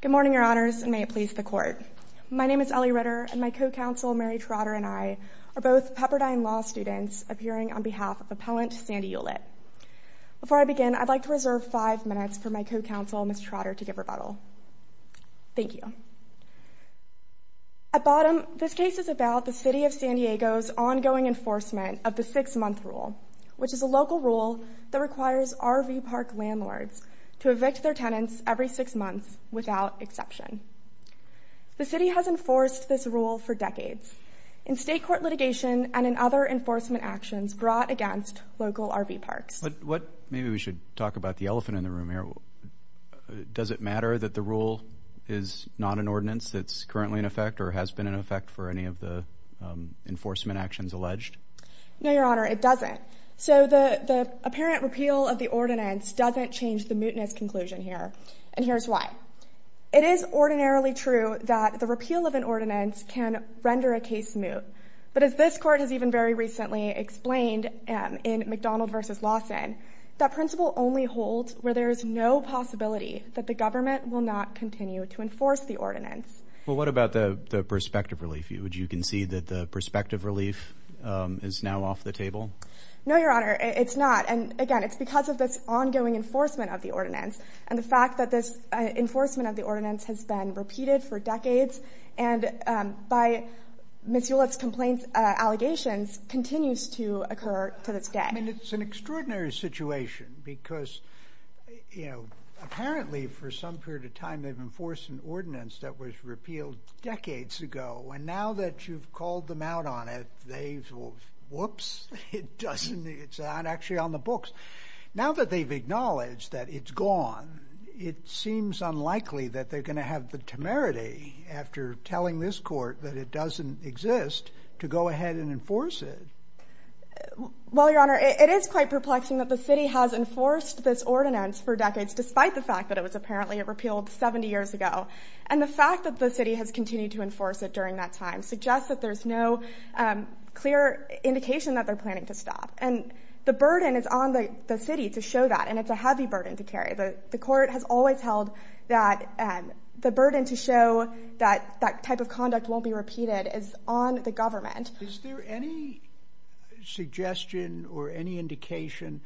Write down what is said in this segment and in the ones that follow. Good morning, Your Honors, and may it please the Court. My name is Ellie Ritter, and my co-counsel, Mary Trotter, and I are both Pepperdine Law students appearing on behalf of Appellant Sandy Eulitt. Before I begin, I'd like to reserve five minutes for my co-counsel, Ms. Trotter, to give rebuttal. Thank you. At bottom, this case is about the City of San Diego's ongoing enforcement of the six-month rule, which is a local rule that requires RV park landlords to evict their tenants every six months without exception. The City has enforced this rule for decades in state court litigation and in other enforcement actions brought against local RV parks. What – maybe we should talk about the elephant in the room here. Does it matter that the rule is not an ordinance that's currently in effect or has been in effect for any of the enforcement actions alleged? No, Your Honor, it doesn't. So the apparent repeal of the ordinance doesn't change the mootness conclusion here, and here's why. It is ordinarily true that the repeal of an ordinance can render a case moot, but as this was recently explained in McDonald v. Lawson, that principle only holds where there is no possibility that the government will not continue to enforce the ordinance. Well, what about the perspective relief? You concede that the perspective relief is now off the table? No, Your Honor, it's not. And again, it's because of this ongoing enforcement of the ordinance and the fact that this enforcement of the ordinance has been repeated for decades. And by Ms. Hewlett's complaint, allegations continues to occur to this day. I mean, it's an extraordinary situation because, you know, apparently for some period of time they've enforced an ordinance that was repealed decades ago, and now that you've called them out on it, they – whoops, it doesn't – it's not actually on the books. Now that they've acknowledged that it's gone, it seems unlikely that they're going to have the temerity after telling this court that it doesn't exist to go ahead and enforce it. Well, Your Honor, it is quite perplexing that the city has enforced this ordinance for decades despite the fact that it was apparently repealed 70 years ago. And the fact that the city has continued to enforce it during that time suggests that there's no clear indication that they're planning to stop. And the burden is on the city to show that, and it's a heavy burden to carry. The court has always held that the burden to show that that type of conduct won't be repeated is on the government. Is there any suggestion or any indication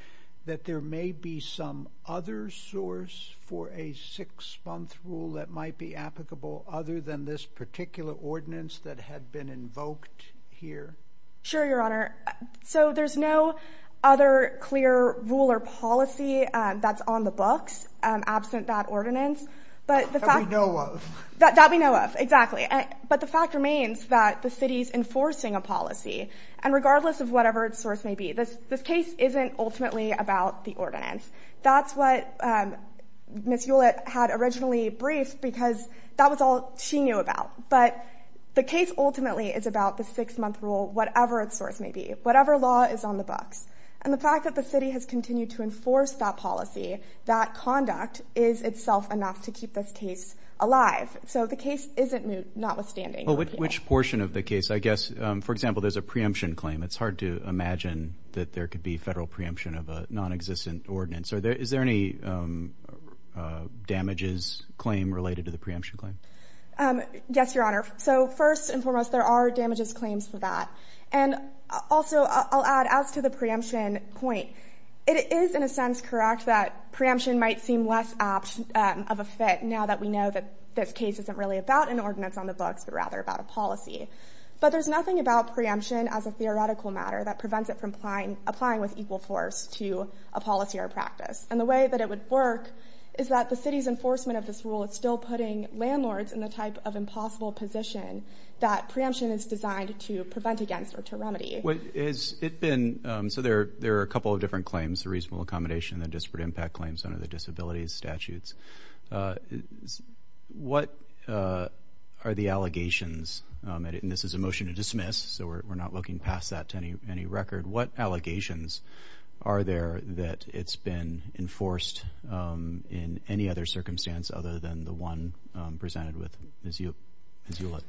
that there may be some other source for a six-month rule that might be applicable other than this particular ordinance that had been invoked here? Sure, Your Honor. So there's no other clear rule or policy that's on the books absent that ordinance. But the fact- That we know of. That we know of, exactly. But the fact remains that the city's enforcing a policy. And regardless of whatever its source may be, this case isn't ultimately about the ordinance. That's what Ms. Hewlett had originally briefed because that was all she knew about. But the case ultimately is about the six-month rule, whatever its source may be, whatever law is on the books. And the fact that the city has continued to enforce that policy, that conduct, is itself enough to keep this case alive. So the case isn't moot, notwithstanding. Which portion of the case? I guess, for example, there's a preemption claim. It's hard to imagine that there could be federal preemption of a nonexistent ordinance. Is there any damages claim related to the preemption claim? Yes, Your Honor. So first and foremost, there are damages claims for that. And also, I'll add, as to the preemption point, it is, in a sense, correct that preemption might seem less apt of a fit now that we know that this case isn't really about an ordinance on the books, but rather about a policy. But there's nothing about preemption as a theoretical matter that prevents it from applying with equal force to a policy or practice. And the way that it would work is that the city's enforcement of this rule is still putting landlords in the type of impossible position that preemption is designed to prevent against or to remedy. Has it been, so there are a couple of different claims, the reasonable accommodation, the disparate impact claims under the disabilities statutes. What are the allegations, and this is a motion to dismiss, so we're not looking past that to any record, what allegations are there that it's been enforced in any other circumstance other than the one presented with Ms. Hewlett?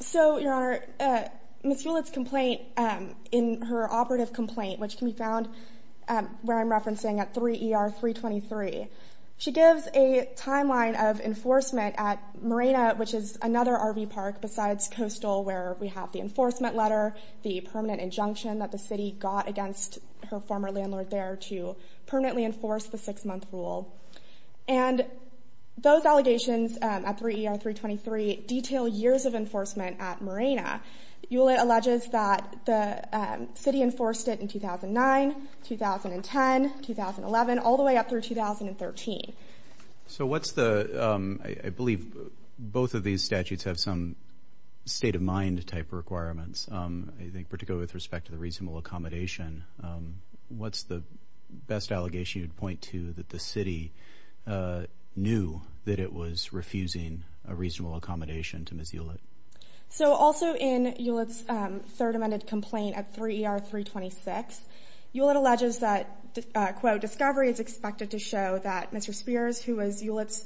So your honor, Ms. Hewlett's complaint in her operative complaint, which can be found where I'm referencing at 3 ER 323, she gives a timeline of enforcement at Marina, which is another RV park besides Coastal, where we have the enforcement letter, the permanent injunction that the city got against her former landlord there to permanently enforce the six month rule. And those allegations at 3 ER 323 detail years of enforcement at Marina. Hewlett alleges that the city enforced it in 2009, 2010, 2011, all the way up through 2013. So what's the, I believe both of these statutes have some state of mind type requirements, I think particularly with respect to the reasonable accommodation. What's the best allegation you'd point to that the city knew that it was refusing a reasonable accommodation to Ms. Hewlett? So also in Hewlett's third amended complaint at 3 ER 326, Hewlett alleges that, quote, discovery is expected to show that Mr. Spears, who was Hewlett's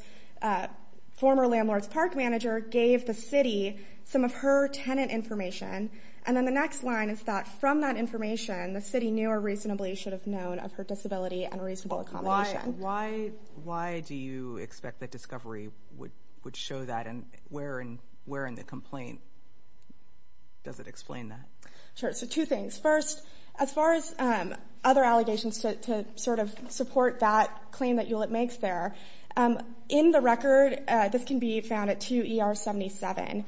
former landlord's park manager, gave the city some of her tenant information. And then the next line is that from that information, the city knew or reasonably should have known of her disability and reasonable accommodation. Why do you expect that discovery would show that, and where in the complaint does it explain that? Sure, so two things. First, as far as other allegations to sort of support that claim that Hewlett makes there, in the record, this can be found at 2 ER 77.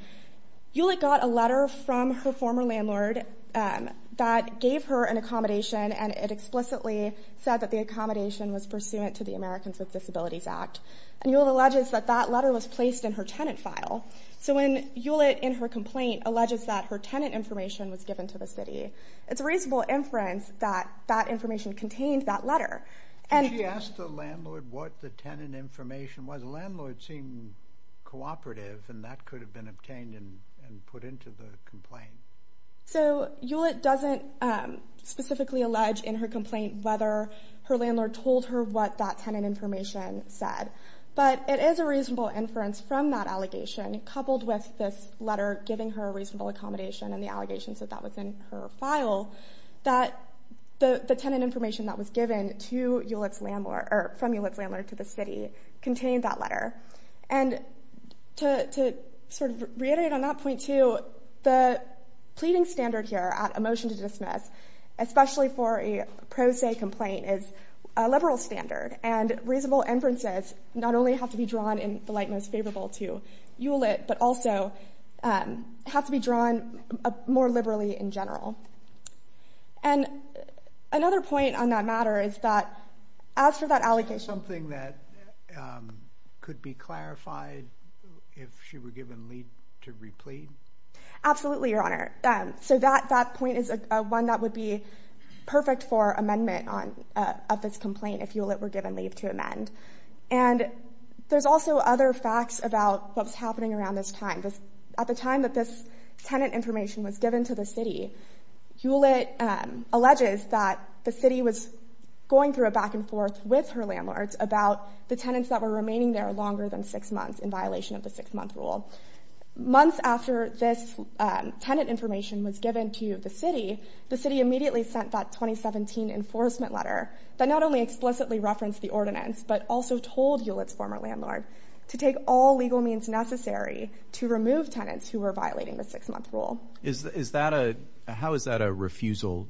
Hewlett got a letter from her former landlord that gave her an accommodation, and it explicitly said that the accommodation was pursuant to the Americans with Disabilities Act. And Hewlett alleges that that letter was placed in her tenant file. So when Hewlett, in her complaint, alleges that her tenant information was given to the city, it's a reasonable inference that that information contained that letter. Did she ask the landlord what the tenant information was? Because the landlord seemed cooperative, and that could have been obtained and put into the complaint. So Hewlett doesn't specifically allege in her complaint whether her landlord told her what that tenant information said. But it is a reasonable inference from that allegation, coupled with this letter giving her a reasonable accommodation and the allegations that that was in her file, that the tenant And to sort of reiterate on that point, too, the pleading standard here at a motion to dismiss, especially for a pro se complaint, is a liberal standard. And reasonable inferences not only have to be drawn in the light most favorable to Hewlett, but also have to be drawn more liberally in general. And another point on that matter is that, as for that allegation Something that could be clarified if she were given leave to replead? Absolutely, Your Honor. So that point is one that would be perfect for amendment of this complaint, if Hewlett were given leave to amend. And there's also other facts about what's happening around this time. At the time that this tenant information was given to the city, Hewlett alleges that the city was going through a back and forth with her landlord about the tenants that were remaining there longer than six months in violation of the six month rule. Months after this tenant information was given to the city, the city immediately sent that 2017 enforcement letter that not only explicitly referenced the ordinance, but also told Hewlett's to take all legal means necessary to remove tenants who were violating the six month rule. How is that a refusal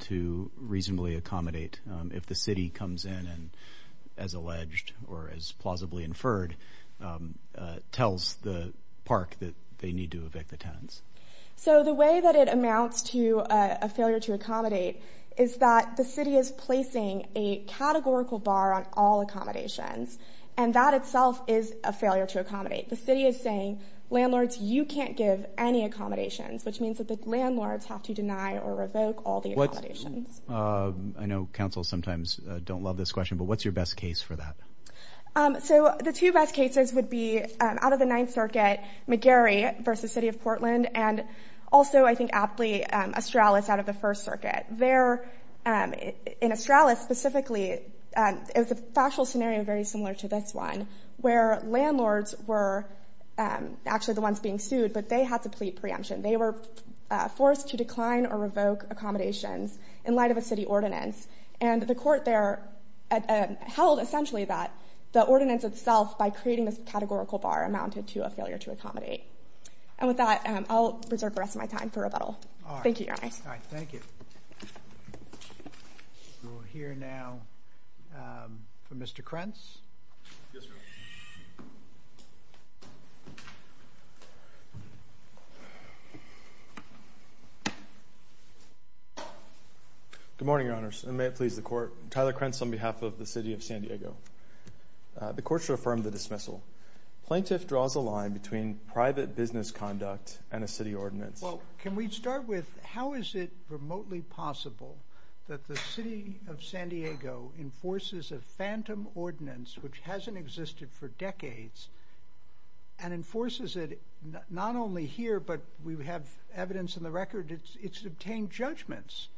to reasonably accommodate if the city comes in and, as alleged or as plausibly inferred, tells the park that they need to evict the tenants? So the way that it amounts to a failure to accommodate is that the city is placing a That itself is a failure to accommodate. The city is saying, landlords, you can't give any accommodations, which means that the landlords have to deny or revoke all the accommodations. I know councils sometimes don't love this question, but what's your best case for that? So the two best cases would be out of the Ninth Circuit, McGarry versus City of Portland, and also, I think aptly, Australis out of the First Circuit. There, in Australis specifically, it was a factual scenario very similar to this one, where landlords were actually the ones being sued, but they had to plead preemption. They were forced to decline or revoke accommodations in light of a city ordinance. And the court there held essentially that the ordinance itself, by creating this categorical bar, amounted to a failure to accommodate. And with that, I'll preserve the rest of my time for rebuttal. Thank you, Your Honor. All right. Thank you. We'll hear now from Mr. Krentz. Yes, Your Honor. Good morning, Your Honors, and may it please the court. Tyler Krentz on behalf of the City of San Diego. The court should affirm the dismissal. Plaintiff draws a line between private business conduct and a city ordinance. Well, can we start with how is it remotely possible that the City of San Diego enforces a phantom ordinance, which hasn't existed for decades, and enforces it not only here, but we have evidence in the record, it's obtained judgments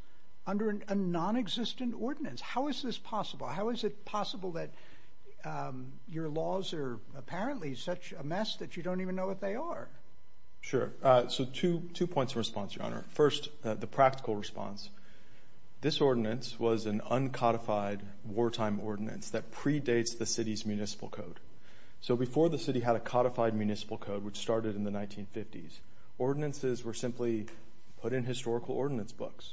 under a nonexistent ordinance. How is this possible? How is it possible that your laws are apparently such a mess that you don't even know what they are? Sure. So two points of response, Your Honor. First, the practical response. This ordinance was an uncodified wartime ordinance that predates the city's municipal code. So before the city had a codified municipal code, which started in the 1950s, ordinances were simply put in historical ordinance books.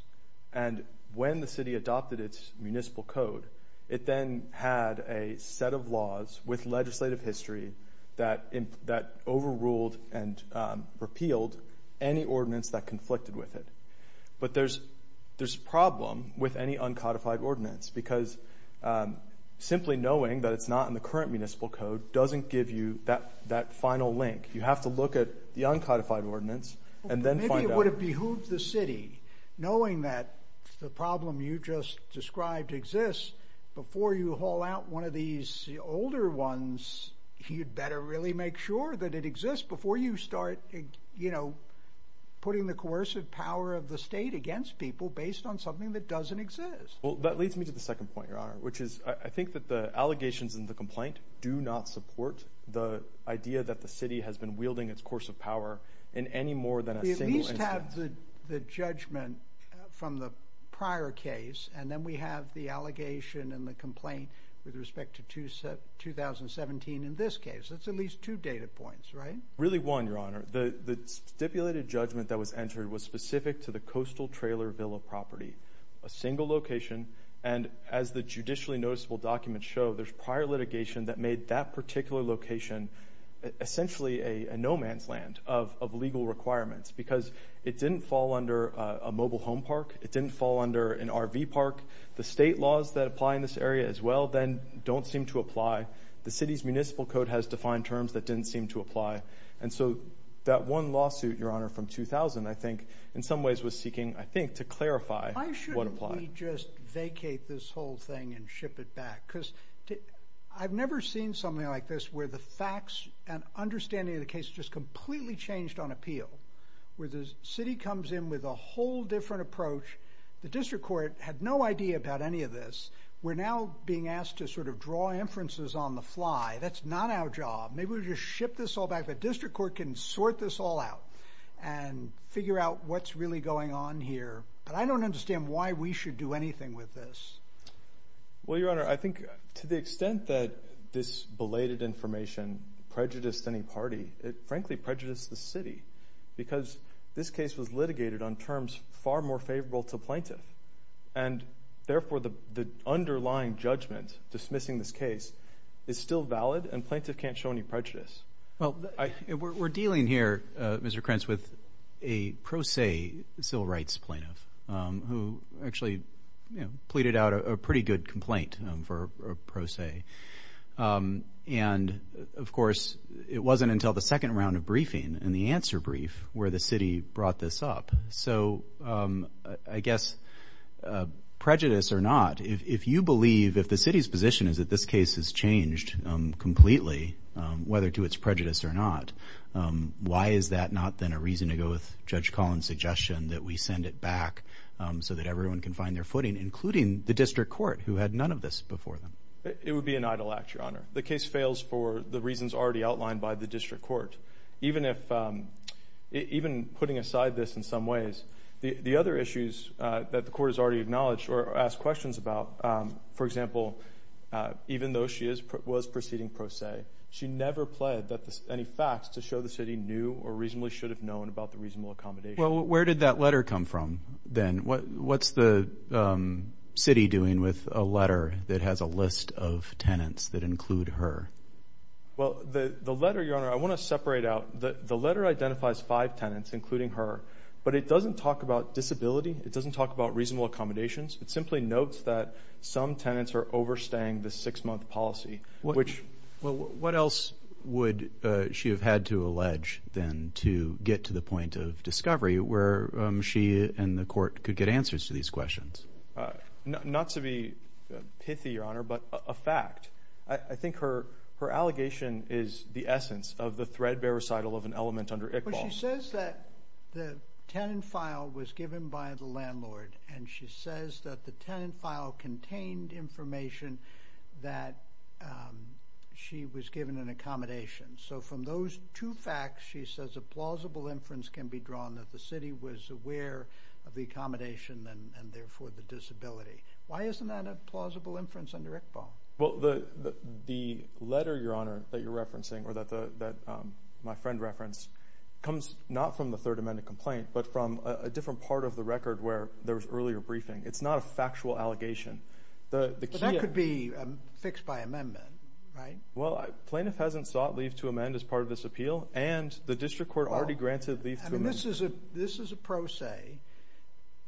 And when the city adopted its municipal code, it then had a set of laws with legislative history that overruled and repealed any ordinance that conflicted with it. But there's a problem with any uncodified ordinance, because simply knowing that it's not in the current municipal code doesn't give you that final link. You have to look at the uncodified ordinance, and then find out. Maybe it would have behooved the city, knowing that the problem you just described exists, before you haul out one of these older ones, you'd better really make sure that it exists before you start putting the coercive power of the state against people based on something that doesn't exist. Well, that leads me to the second point, Your Honor, which is I think that the allegations in the complaint do not support the idea that the city has been wielding its coercive power in any more than a single instance. We just have the judgment from the prior case, and then we have the allegation and the complaint with respect to 2017 in this case. That's at least two data points, right? Really one, Your Honor. The stipulated judgment that was entered was specific to the Coastal Trailer Villa property, a single location. And as the judicially noticeable documents show, there's prior litigation that made that It didn't fall under a mobile home park. It didn't fall under an RV park. The state laws that apply in this area as well, then, don't seem to apply. The city's municipal code has defined terms that didn't seem to apply. And so that one lawsuit, Your Honor, from 2000, I think, in some ways was seeking, I think, to clarify what applied. Why shouldn't we just vacate this whole thing and ship it back? Because I've never seen something like this where the facts and understanding of the case just completely changed on appeal, where the city comes in with a whole different approach. The district court had no idea about any of this. We're now being asked to sort of draw inferences on the fly. That's not our job. Maybe we'll just ship this all back, but district court can sort this all out and figure out what's really going on here. But I don't understand why we should do anything with this. Well, Your Honor, I think to the extent that this belated information prejudiced any party, it frankly prejudiced the city. Because this case was litigated on terms far more favorable to plaintiff. And therefore, the underlying judgment dismissing this case is still valid, and plaintiff can't show any prejudice. Well, we're dealing here, Mr. Krentz, with a pro se civil rights plaintiff who actually pleaded out a pretty good complaint for pro se. And, of course, it wasn't until the second round of briefing and the answer brief where the city brought this up. So I guess prejudice or not, if you believe, if the city's position is that this case has changed completely, whether to its prejudice or not, why is that not then a reason to go with Judge Collins' suggestion that we send it back so that everyone can find their footing, including the district court who had none of this before them? It would be an idle act, Your Honor. The case fails for the reasons already outlined by the district court. Even if, even putting aside this in some ways, the other issues that the court has already acknowledged or asked questions about, for example, even though she was proceeding pro se, she never pled any facts to show the city knew or reasonably should have known about the reasonable accommodation. Well, where did that letter come from then? What's the city doing with a letter that has a list of tenants that include her? Well, the letter, Your Honor, I want to separate out, the letter identifies five tenants, including her, but it doesn't talk about disability. It doesn't talk about reasonable accommodations. It simply notes that some tenants are overstaying the six-month policy, which... What else would she have had to allege then to get to the point of discovery where she and the court could get answers to these questions? Not to be pithy, Your Honor, but a fact. I think her allegation is the essence of the threadbare recital of an element under Iqbal. Well, she says that the tenant file was given by the landlord, and she says that the tenant file contained information that she was given an accommodation. So from those two facts, she says a plausible inference can be drawn that the city was aware of the accommodation and therefore the disability. Why isn't that a plausible inference under Iqbal? Well, the letter, Your Honor, that you're referencing, or that my friend referenced, comes not from the Third Amendment complaint, but from a different part of the record where there was earlier briefing. It's not a factual allegation. The key... But that could be fixed by amendment, right? Well, plaintiff hasn't sought leave to amend as part of this appeal, and the district court already granted leave to amend. I mean, this is a pro se.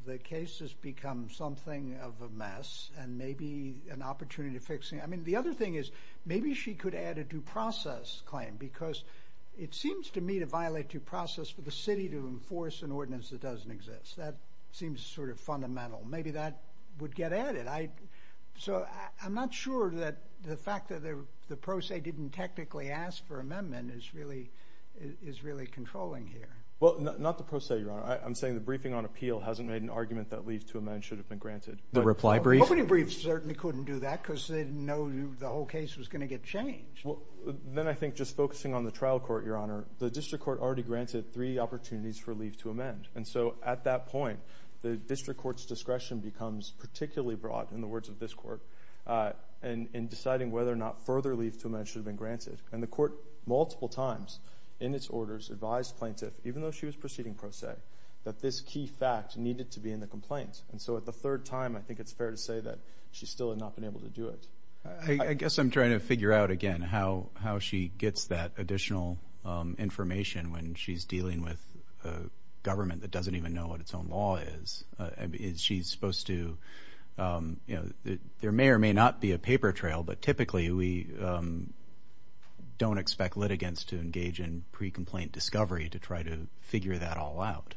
The case has become something of a mess, and maybe an opportunity to fix it. I mean, the other thing is, maybe she could add a due process claim, because it seems to me to violate due process for the city to enforce an ordinance that doesn't exist. That seems sort of fundamental. Maybe that would get added. So I'm not sure that the fact that the pro se didn't technically ask for amendment is really controlling here. Well, not the pro se, Your Honor. I'm saying the briefing on appeal hasn't made an argument that leave to amend should have been granted. The reply brief? Nobody briefed certainly couldn't do that, because they didn't know the whole case was going to get changed. Well, then I think just focusing on the trial court, Your Honor, the district court already granted three opportunities for leave to amend. And so at that point, the district court's discretion becomes particularly broad, in been granted. And the court, multiple times, in its orders, advised plaintiff, even though she was proceeding pro se, that this key fact needed to be in the complaint. And so at the third time, I think it's fair to say that she still had not been able to do it. I guess I'm trying to figure out, again, how she gets that additional information when she's dealing with a government that doesn't even know what its own law is. She's supposed to, there may or may not be a paper trail, but typically we don't expect litigants to engage in pre-complaint discovery to try to figure that all out.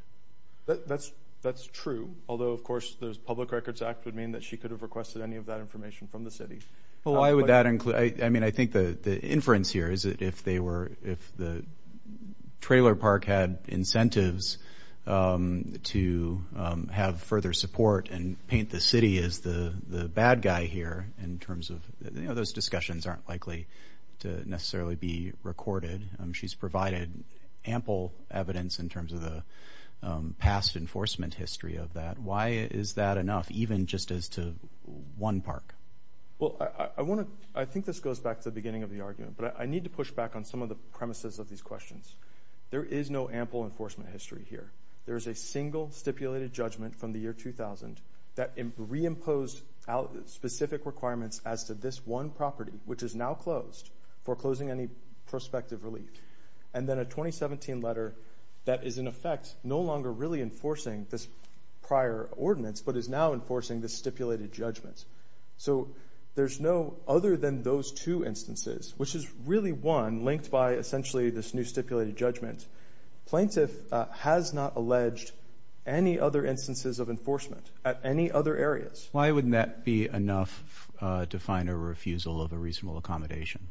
That's true. Although, of course, the Public Records Act would mean that she could have requested any of that information from the city. Well, why would that include, I mean, I think the inference here is that if they were, if have further support and paint the city as the bad guy here, in terms of, you know, those discussions aren't likely to necessarily be recorded. She's provided ample evidence in terms of the past enforcement history of that. Why is that enough, even just as to one park? Well, I want to, I think this goes back to the beginning of the argument, but I need to push back on some of the premises of these questions. There is no ample enforcement history here. There is a single stipulated judgment from the year 2000 that reimposed specific requirements as to this one property, which is now closed for closing any prospective relief. And then a 2017 letter that is, in effect, no longer really enforcing this prior ordinance, but is now enforcing this stipulated judgment. So there's no other than those two instances, which is really one linked by essentially this new stipulated judgment. Plaintiff has not alleged any other instances of enforcement at any other areas. Why wouldn't that be enough to find a refusal of a reasonable accommodation?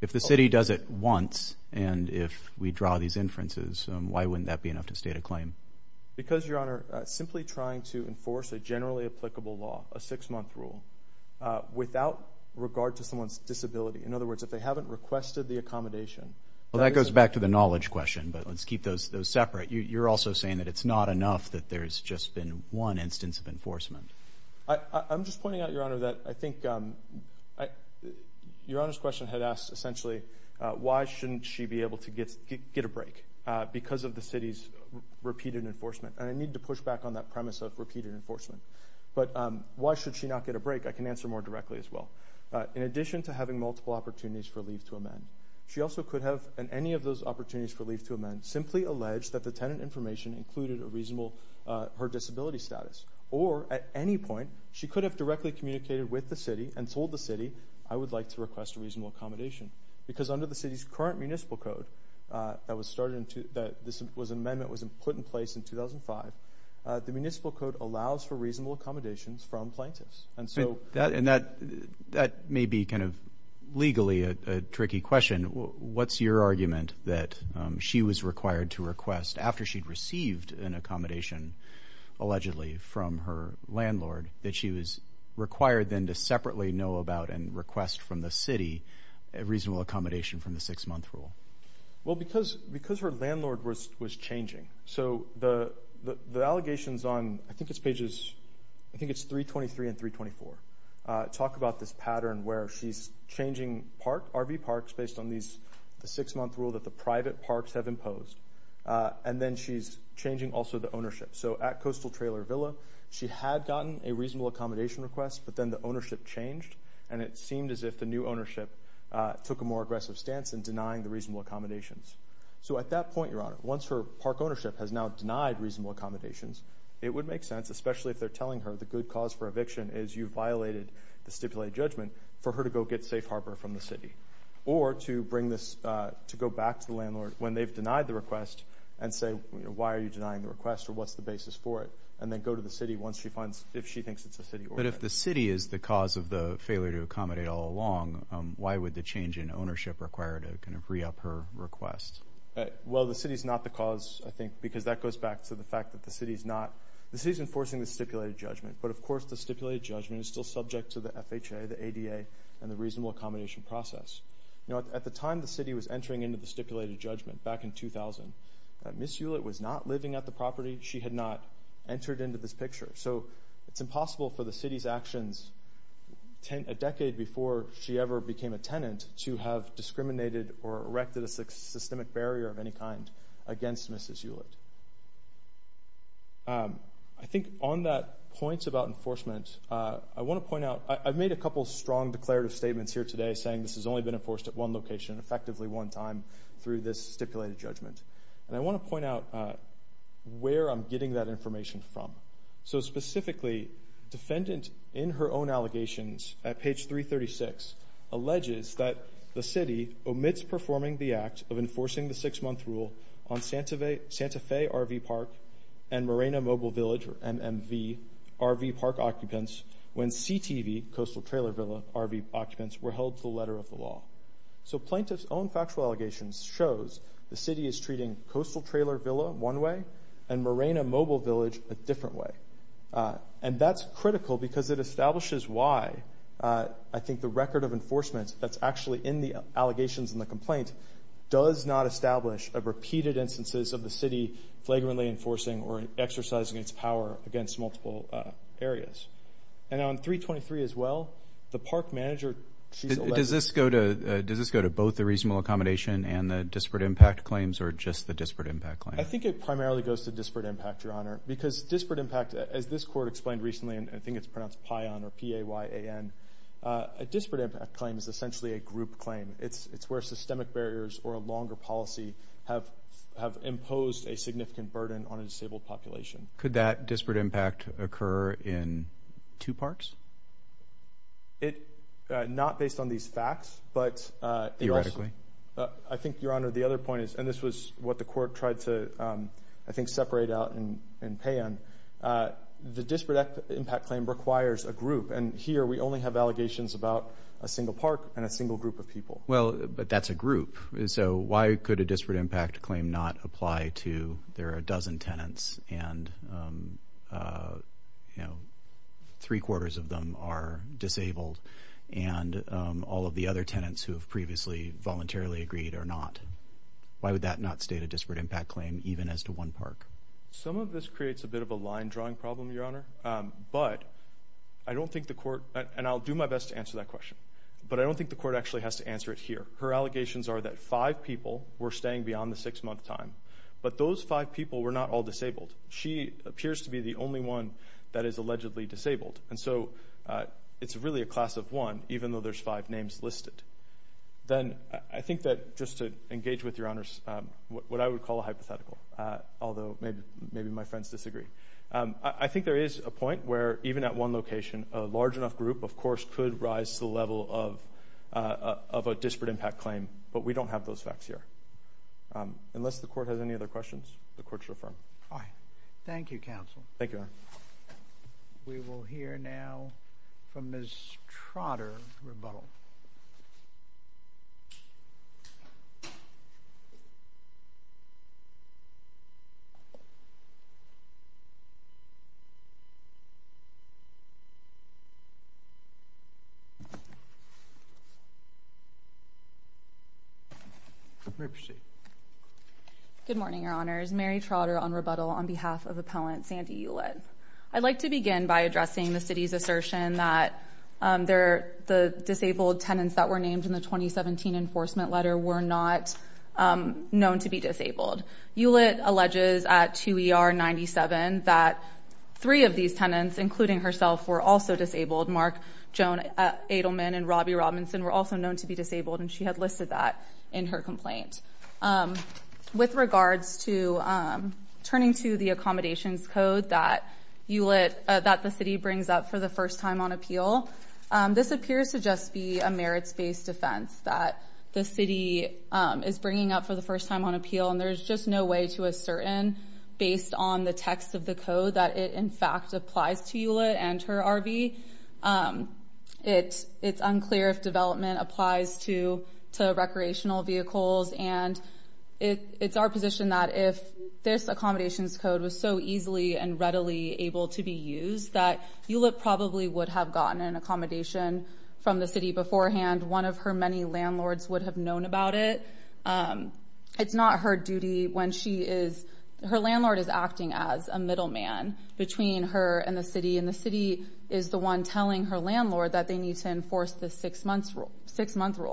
If the city does it once, and if we draw these inferences, why wouldn't that be enough to state a claim? Because Your Honor, simply trying to enforce a generally applicable law, a six-month rule, without regard to someone's disability. In other words, if they haven't requested the accommodation. Well, that goes back to the knowledge question, but let's keep those separate. You're also saying that it's not enough, that there's just been one instance of enforcement. I'm just pointing out, Your Honor, that I think Your Honor's question had asked, essentially, why shouldn't she be able to get a break because of the city's repeated enforcement? And I need to push back on that premise of repeated enforcement. But why should she not get a break? I can answer more directly as well. In addition to having multiple opportunities for leave to amend, she also could have, in any of those opportunities for leave to amend, simply allege that the tenant information included a reasonable, her disability status. Or at any point, she could have directly communicated with the city and told the city, I would like to request a reasonable accommodation. Because under the city's current municipal code, that this amendment was put in place in 2005, the municipal code allows for reasonable accommodations from plaintiffs. And that may be kind of legally a tricky question. What's your argument that she was required to request, after she'd received an accommodation, allegedly, from her landlord, that she was required then to separately know about and request from the city a reasonable accommodation from the six-month rule? Well, because her landlord was changing. So the allegations on, I think it's pages, I think it's 323 and 324, talk about this pattern where she's changing RV parks based on the six-month rule that the private parks have imposed. And then she's changing also the ownership. So at Coastal Trailer Villa, she had gotten a reasonable accommodation request, but then the ownership changed, and it seemed as if the new ownership took a more aggressive stance in denying the reasonable accommodations. So at that point, Your Honor, once her park ownership has now denied reasonable accommodations, it would make sense, especially if they're telling her the good cause for eviction is you violated the stipulated judgment, for her to go get safe harbor from the city. Or to bring this, to go back to the landlord when they've denied the request and say, why are you denying the request, or what's the basis for it, and then go to the city once she finds, if she thinks it's a city order. But if the city is the cause of the failure to accommodate all along, why would the change in ownership require to kind of re-up her request? Well, the city's not the cause, I think, because that goes back to the fact that the city's not. The city's enforcing the stipulated judgment, but of course the stipulated judgment is still subject to the FHA, the ADA, and the reasonable accommodation process. At the time the city was entering into the stipulated judgment, back in 2000, Ms. Hewlett was not living at the property. She had not entered into this picture. So it's impossible for the city's actions a decade before she ever became a tenant to have discriminated or erected a systemic barrier of any kind against Mrs. Hewlett. I think on that point about enforcement, I want to point out, I've made a couple strong declarative statements here today saying this has only been enforced at one location, effectively one time, through this stipulated judgment. And I want to point out where I'm getting that information from. So specifically, defendant, in her own allegations, at page 336, alleges that the city omits performing the act of enforcing the six-month rule on Santa Fe RV Park and Morena Mobile Village or MMV RV Park occupants when CTV, Coastal Trailer Villa, RV occupants were held to the letter of the law. So plaintiff's own factual allegations shows the city is treating Coastal Trailer Villa one way and Morena Mobile Village a different way. And that's critical because it establishes why I think the record of enforcement that's actually in the allegations and the complaint does not establish a repeated instances of the city flagrantly enforcing or exercising its power against multiple areas. And on 323 as well, the park manager, she's elected... Does this go to both the reasonable accommodation and the disparate impact claims or just the disparate impact claim? I think it primarily goes to disparate impact, Your Honor, because disparate impact, as this court explained recently, and I think it's pronounced PAYAN or P-A-Y-A-N, a disparate impact claim is essentially a group claim. It's where systemic barriers or a longer policy have imposed a significant burden on a disabled population. Could that disparate impact occur in two parts? Not based on these facts, but... Theoretically? I think, Your Honor, the other point is, and this was what the court tried to, I think, separate out in PAYAN, the disparate impact claim requires a group. And here we only have allegations about a single park and a single group of people. Well, but that's a group. So why could a disparate impact claim not apply to... There are a dozen tenants and three quarters of them are disabled. And all of the other tenants who have previously voluntarily agreed are not. Why would that not state a disparate impact claim even as to one park? Some of this creates a bit of a line drawing problem, Your Honor. But I don't think the court, and I'll do my best to answer that question, but I don't think the court actually has to answer it here. Her allegations are that five people were staying beyond the six month time, but those five people were not all disabled. She appears to be the only one that is allegedly disabled. And so it's really a class of one, even though there's five names listed. Then I think that, just to engage with Your Honors, what I would call a hypothetical, although maybe my friends disagree. I think there is a point where, even at one location, a large enough group, of course, could rise to the level of a disparate impact claim, but we don't have those facts here. Unless the court has any other questions, the court's reaffirmed. Thank you, counsel. Thank you, Your Honor. We will hear now from Ms. Trotter on rebuttal. You may proceed. Thank you, Your Honors. Mary Trotter on rebuttal on behalf of appellant Sandy Ulett. I'd like to begin by addressing the city's assertion that the disabled tenants that were named in the 2017 enforcement letter were not known to be disabled. Ulett alleges at 2ER97 that three of these tenants, including herself, were also disabled. Mark Joan Adelman and Robbie Robinson were also known to be disabled, and she had listed that in her complaint. With regards to turning to the accommodations code that the city brings up for the first time on appeal, this appears to just be a merits-based offense that the city is bringing up for the first time on appeal, and there's just no way to ascertain, based on the text of the code, that it, in fact, applies to Ulett and her RV. It's unclear if development applies to recreational vehicles, and it's our position that if this accommodations code was so easily and readily able to be used, that Ulett probably would have gotten an accommodation from the city beforehand. One of her many landlords would have known about it. It's not her duty when she is—her landlord is acting as a middleman between her and the one telling her landlord that they need to enforce the six-month rule.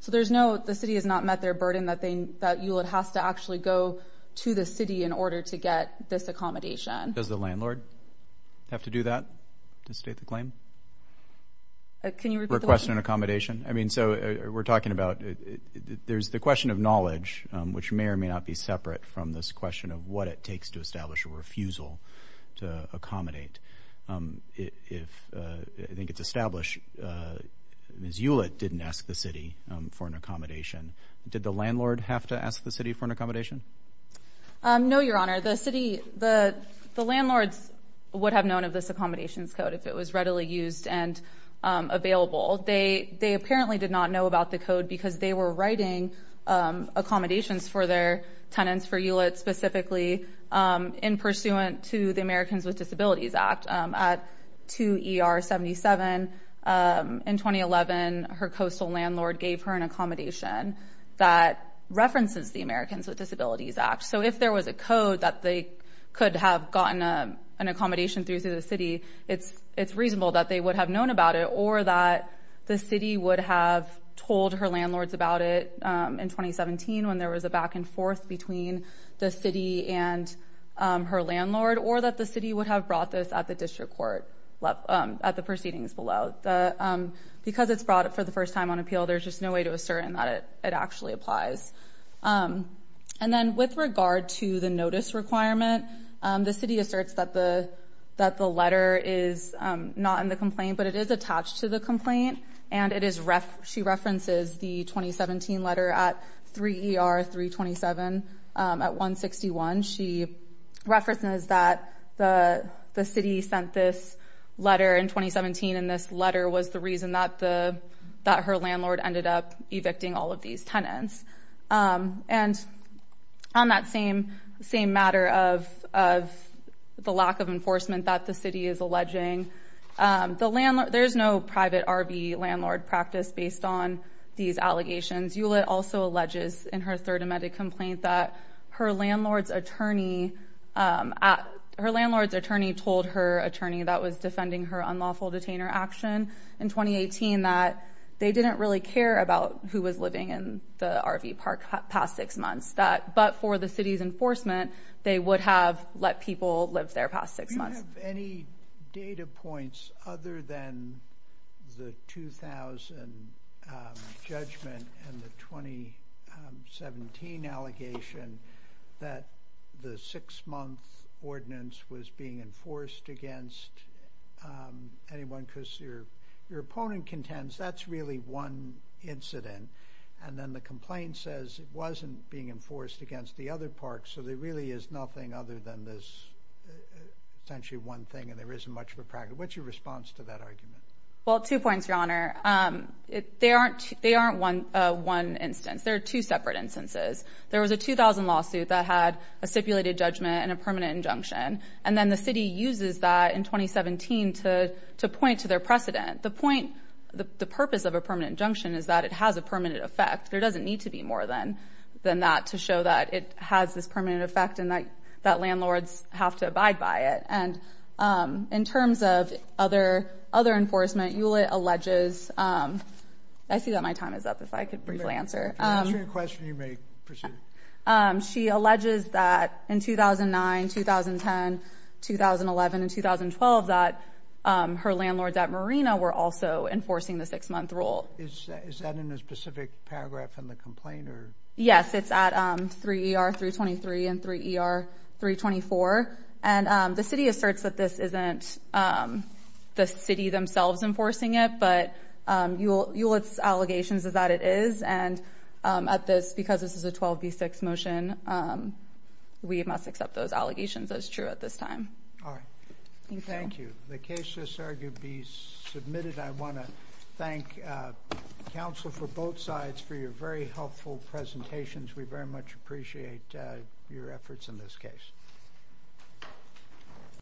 So there's no—the city has not met their burden that they—that Ulett has to actually go to the city in order to get this accommodation. Does the landlord have to do that to state the claim? Can you repeat the question? Request an accommodation? I mean, so we're talking about—there's the question of knowledge, which may or may not be separate from this question of what it takes to establish a refusal to accommodate. If—I think it's established Ms. Ulett didn't ask the city for an accommodation. Did the landlord have to ask the city for an accommodation? No, Your Honor. The city—the landlords would have known of this accommodations code if it was readily used and available. They apparently did not know about the code because they were writing accommodations for their tenants, for Ulett specifically, in pursuant to the Americans with Disabilities Act. At 2 ER 77 in 2011, her coastal landlord gave her an accommodation that references the Americans with Disabilities Act. So if there was a code that they could have gotten an accommodation through to the city, it's reasonable that they would have known about it or that the city would have told her landlords about it in 2017 when there was a back and forth between the city and her landlord, or that the city would have brought this at the district court at the proceedings below. Because it's brought it for the first time on appeal, there's just no way to assert in that it actually applies. And then with regard to the notice requirement, the city asserts that the letter is not in the complaint, but it is attached to the complaint. And it is—she references the 2017 letter at 3 ER 327 at 161. She references that the city sent this letter in 2017, and this letter was the reason that her landlord ended up evicting all of these tenants. And on that same matter of the lack of enforcement that the city is alleging, there's no private RV landlord practice based on these allegations. Hewlett also alleges in her third amended complaint that her landlord's attorney told her attorney that was defending her unlawful detainer action. In 2018, that they didn't really care about who was living in the RV park past six months. But for the city's enforcement, they would have let people live there past six months. Do you have any data points other than the 2000 judgment and the 2017 allegation that the six-month ordinance was being enforced against anyone because your opponent contends that's really one incident, and then the complaint says it wasn't being enforced against the other parks, so there really is nothing other than this essentially one thing and there isn't much of a practice. What's your response to that argument? Well, two points, Your Honor. They aren't one instance. There are two separate instances. There was a 2000 lawsuit that had a stipulated judgment and a permanent injunction. And then the city uses that in 2017 to point to their precedent. The point, the purpose of a permanent injunction is that it has a permanent effect. There doesn't need to be more than that to show that it has this permanent effect and that landlords have to abide by it. And in terms of other enforcement, Hewlett alleges, I see that my time is up, if I could briefly answer. If I can answer your question, you may proceed. She alleges that in 2009, 2010, 2011, and 2012, that her landlords at Marina were also enforcing the six-month rule. Is that in a specific paragraph in the complaint or? Yes, it's at 3 ER 323 and 3 ER 324. And the city asserts that this isn't the city themselves enforcing it, but Hewlett's allegations is that it is. And at this, because this is a 12 v. 6 motion, we must accept those allegations as true at this time. All right. Thank you. The cases are to be submitted. I want to thank counsel for both sides for your very helpful presentations. We very much appreciate your efforts in this case.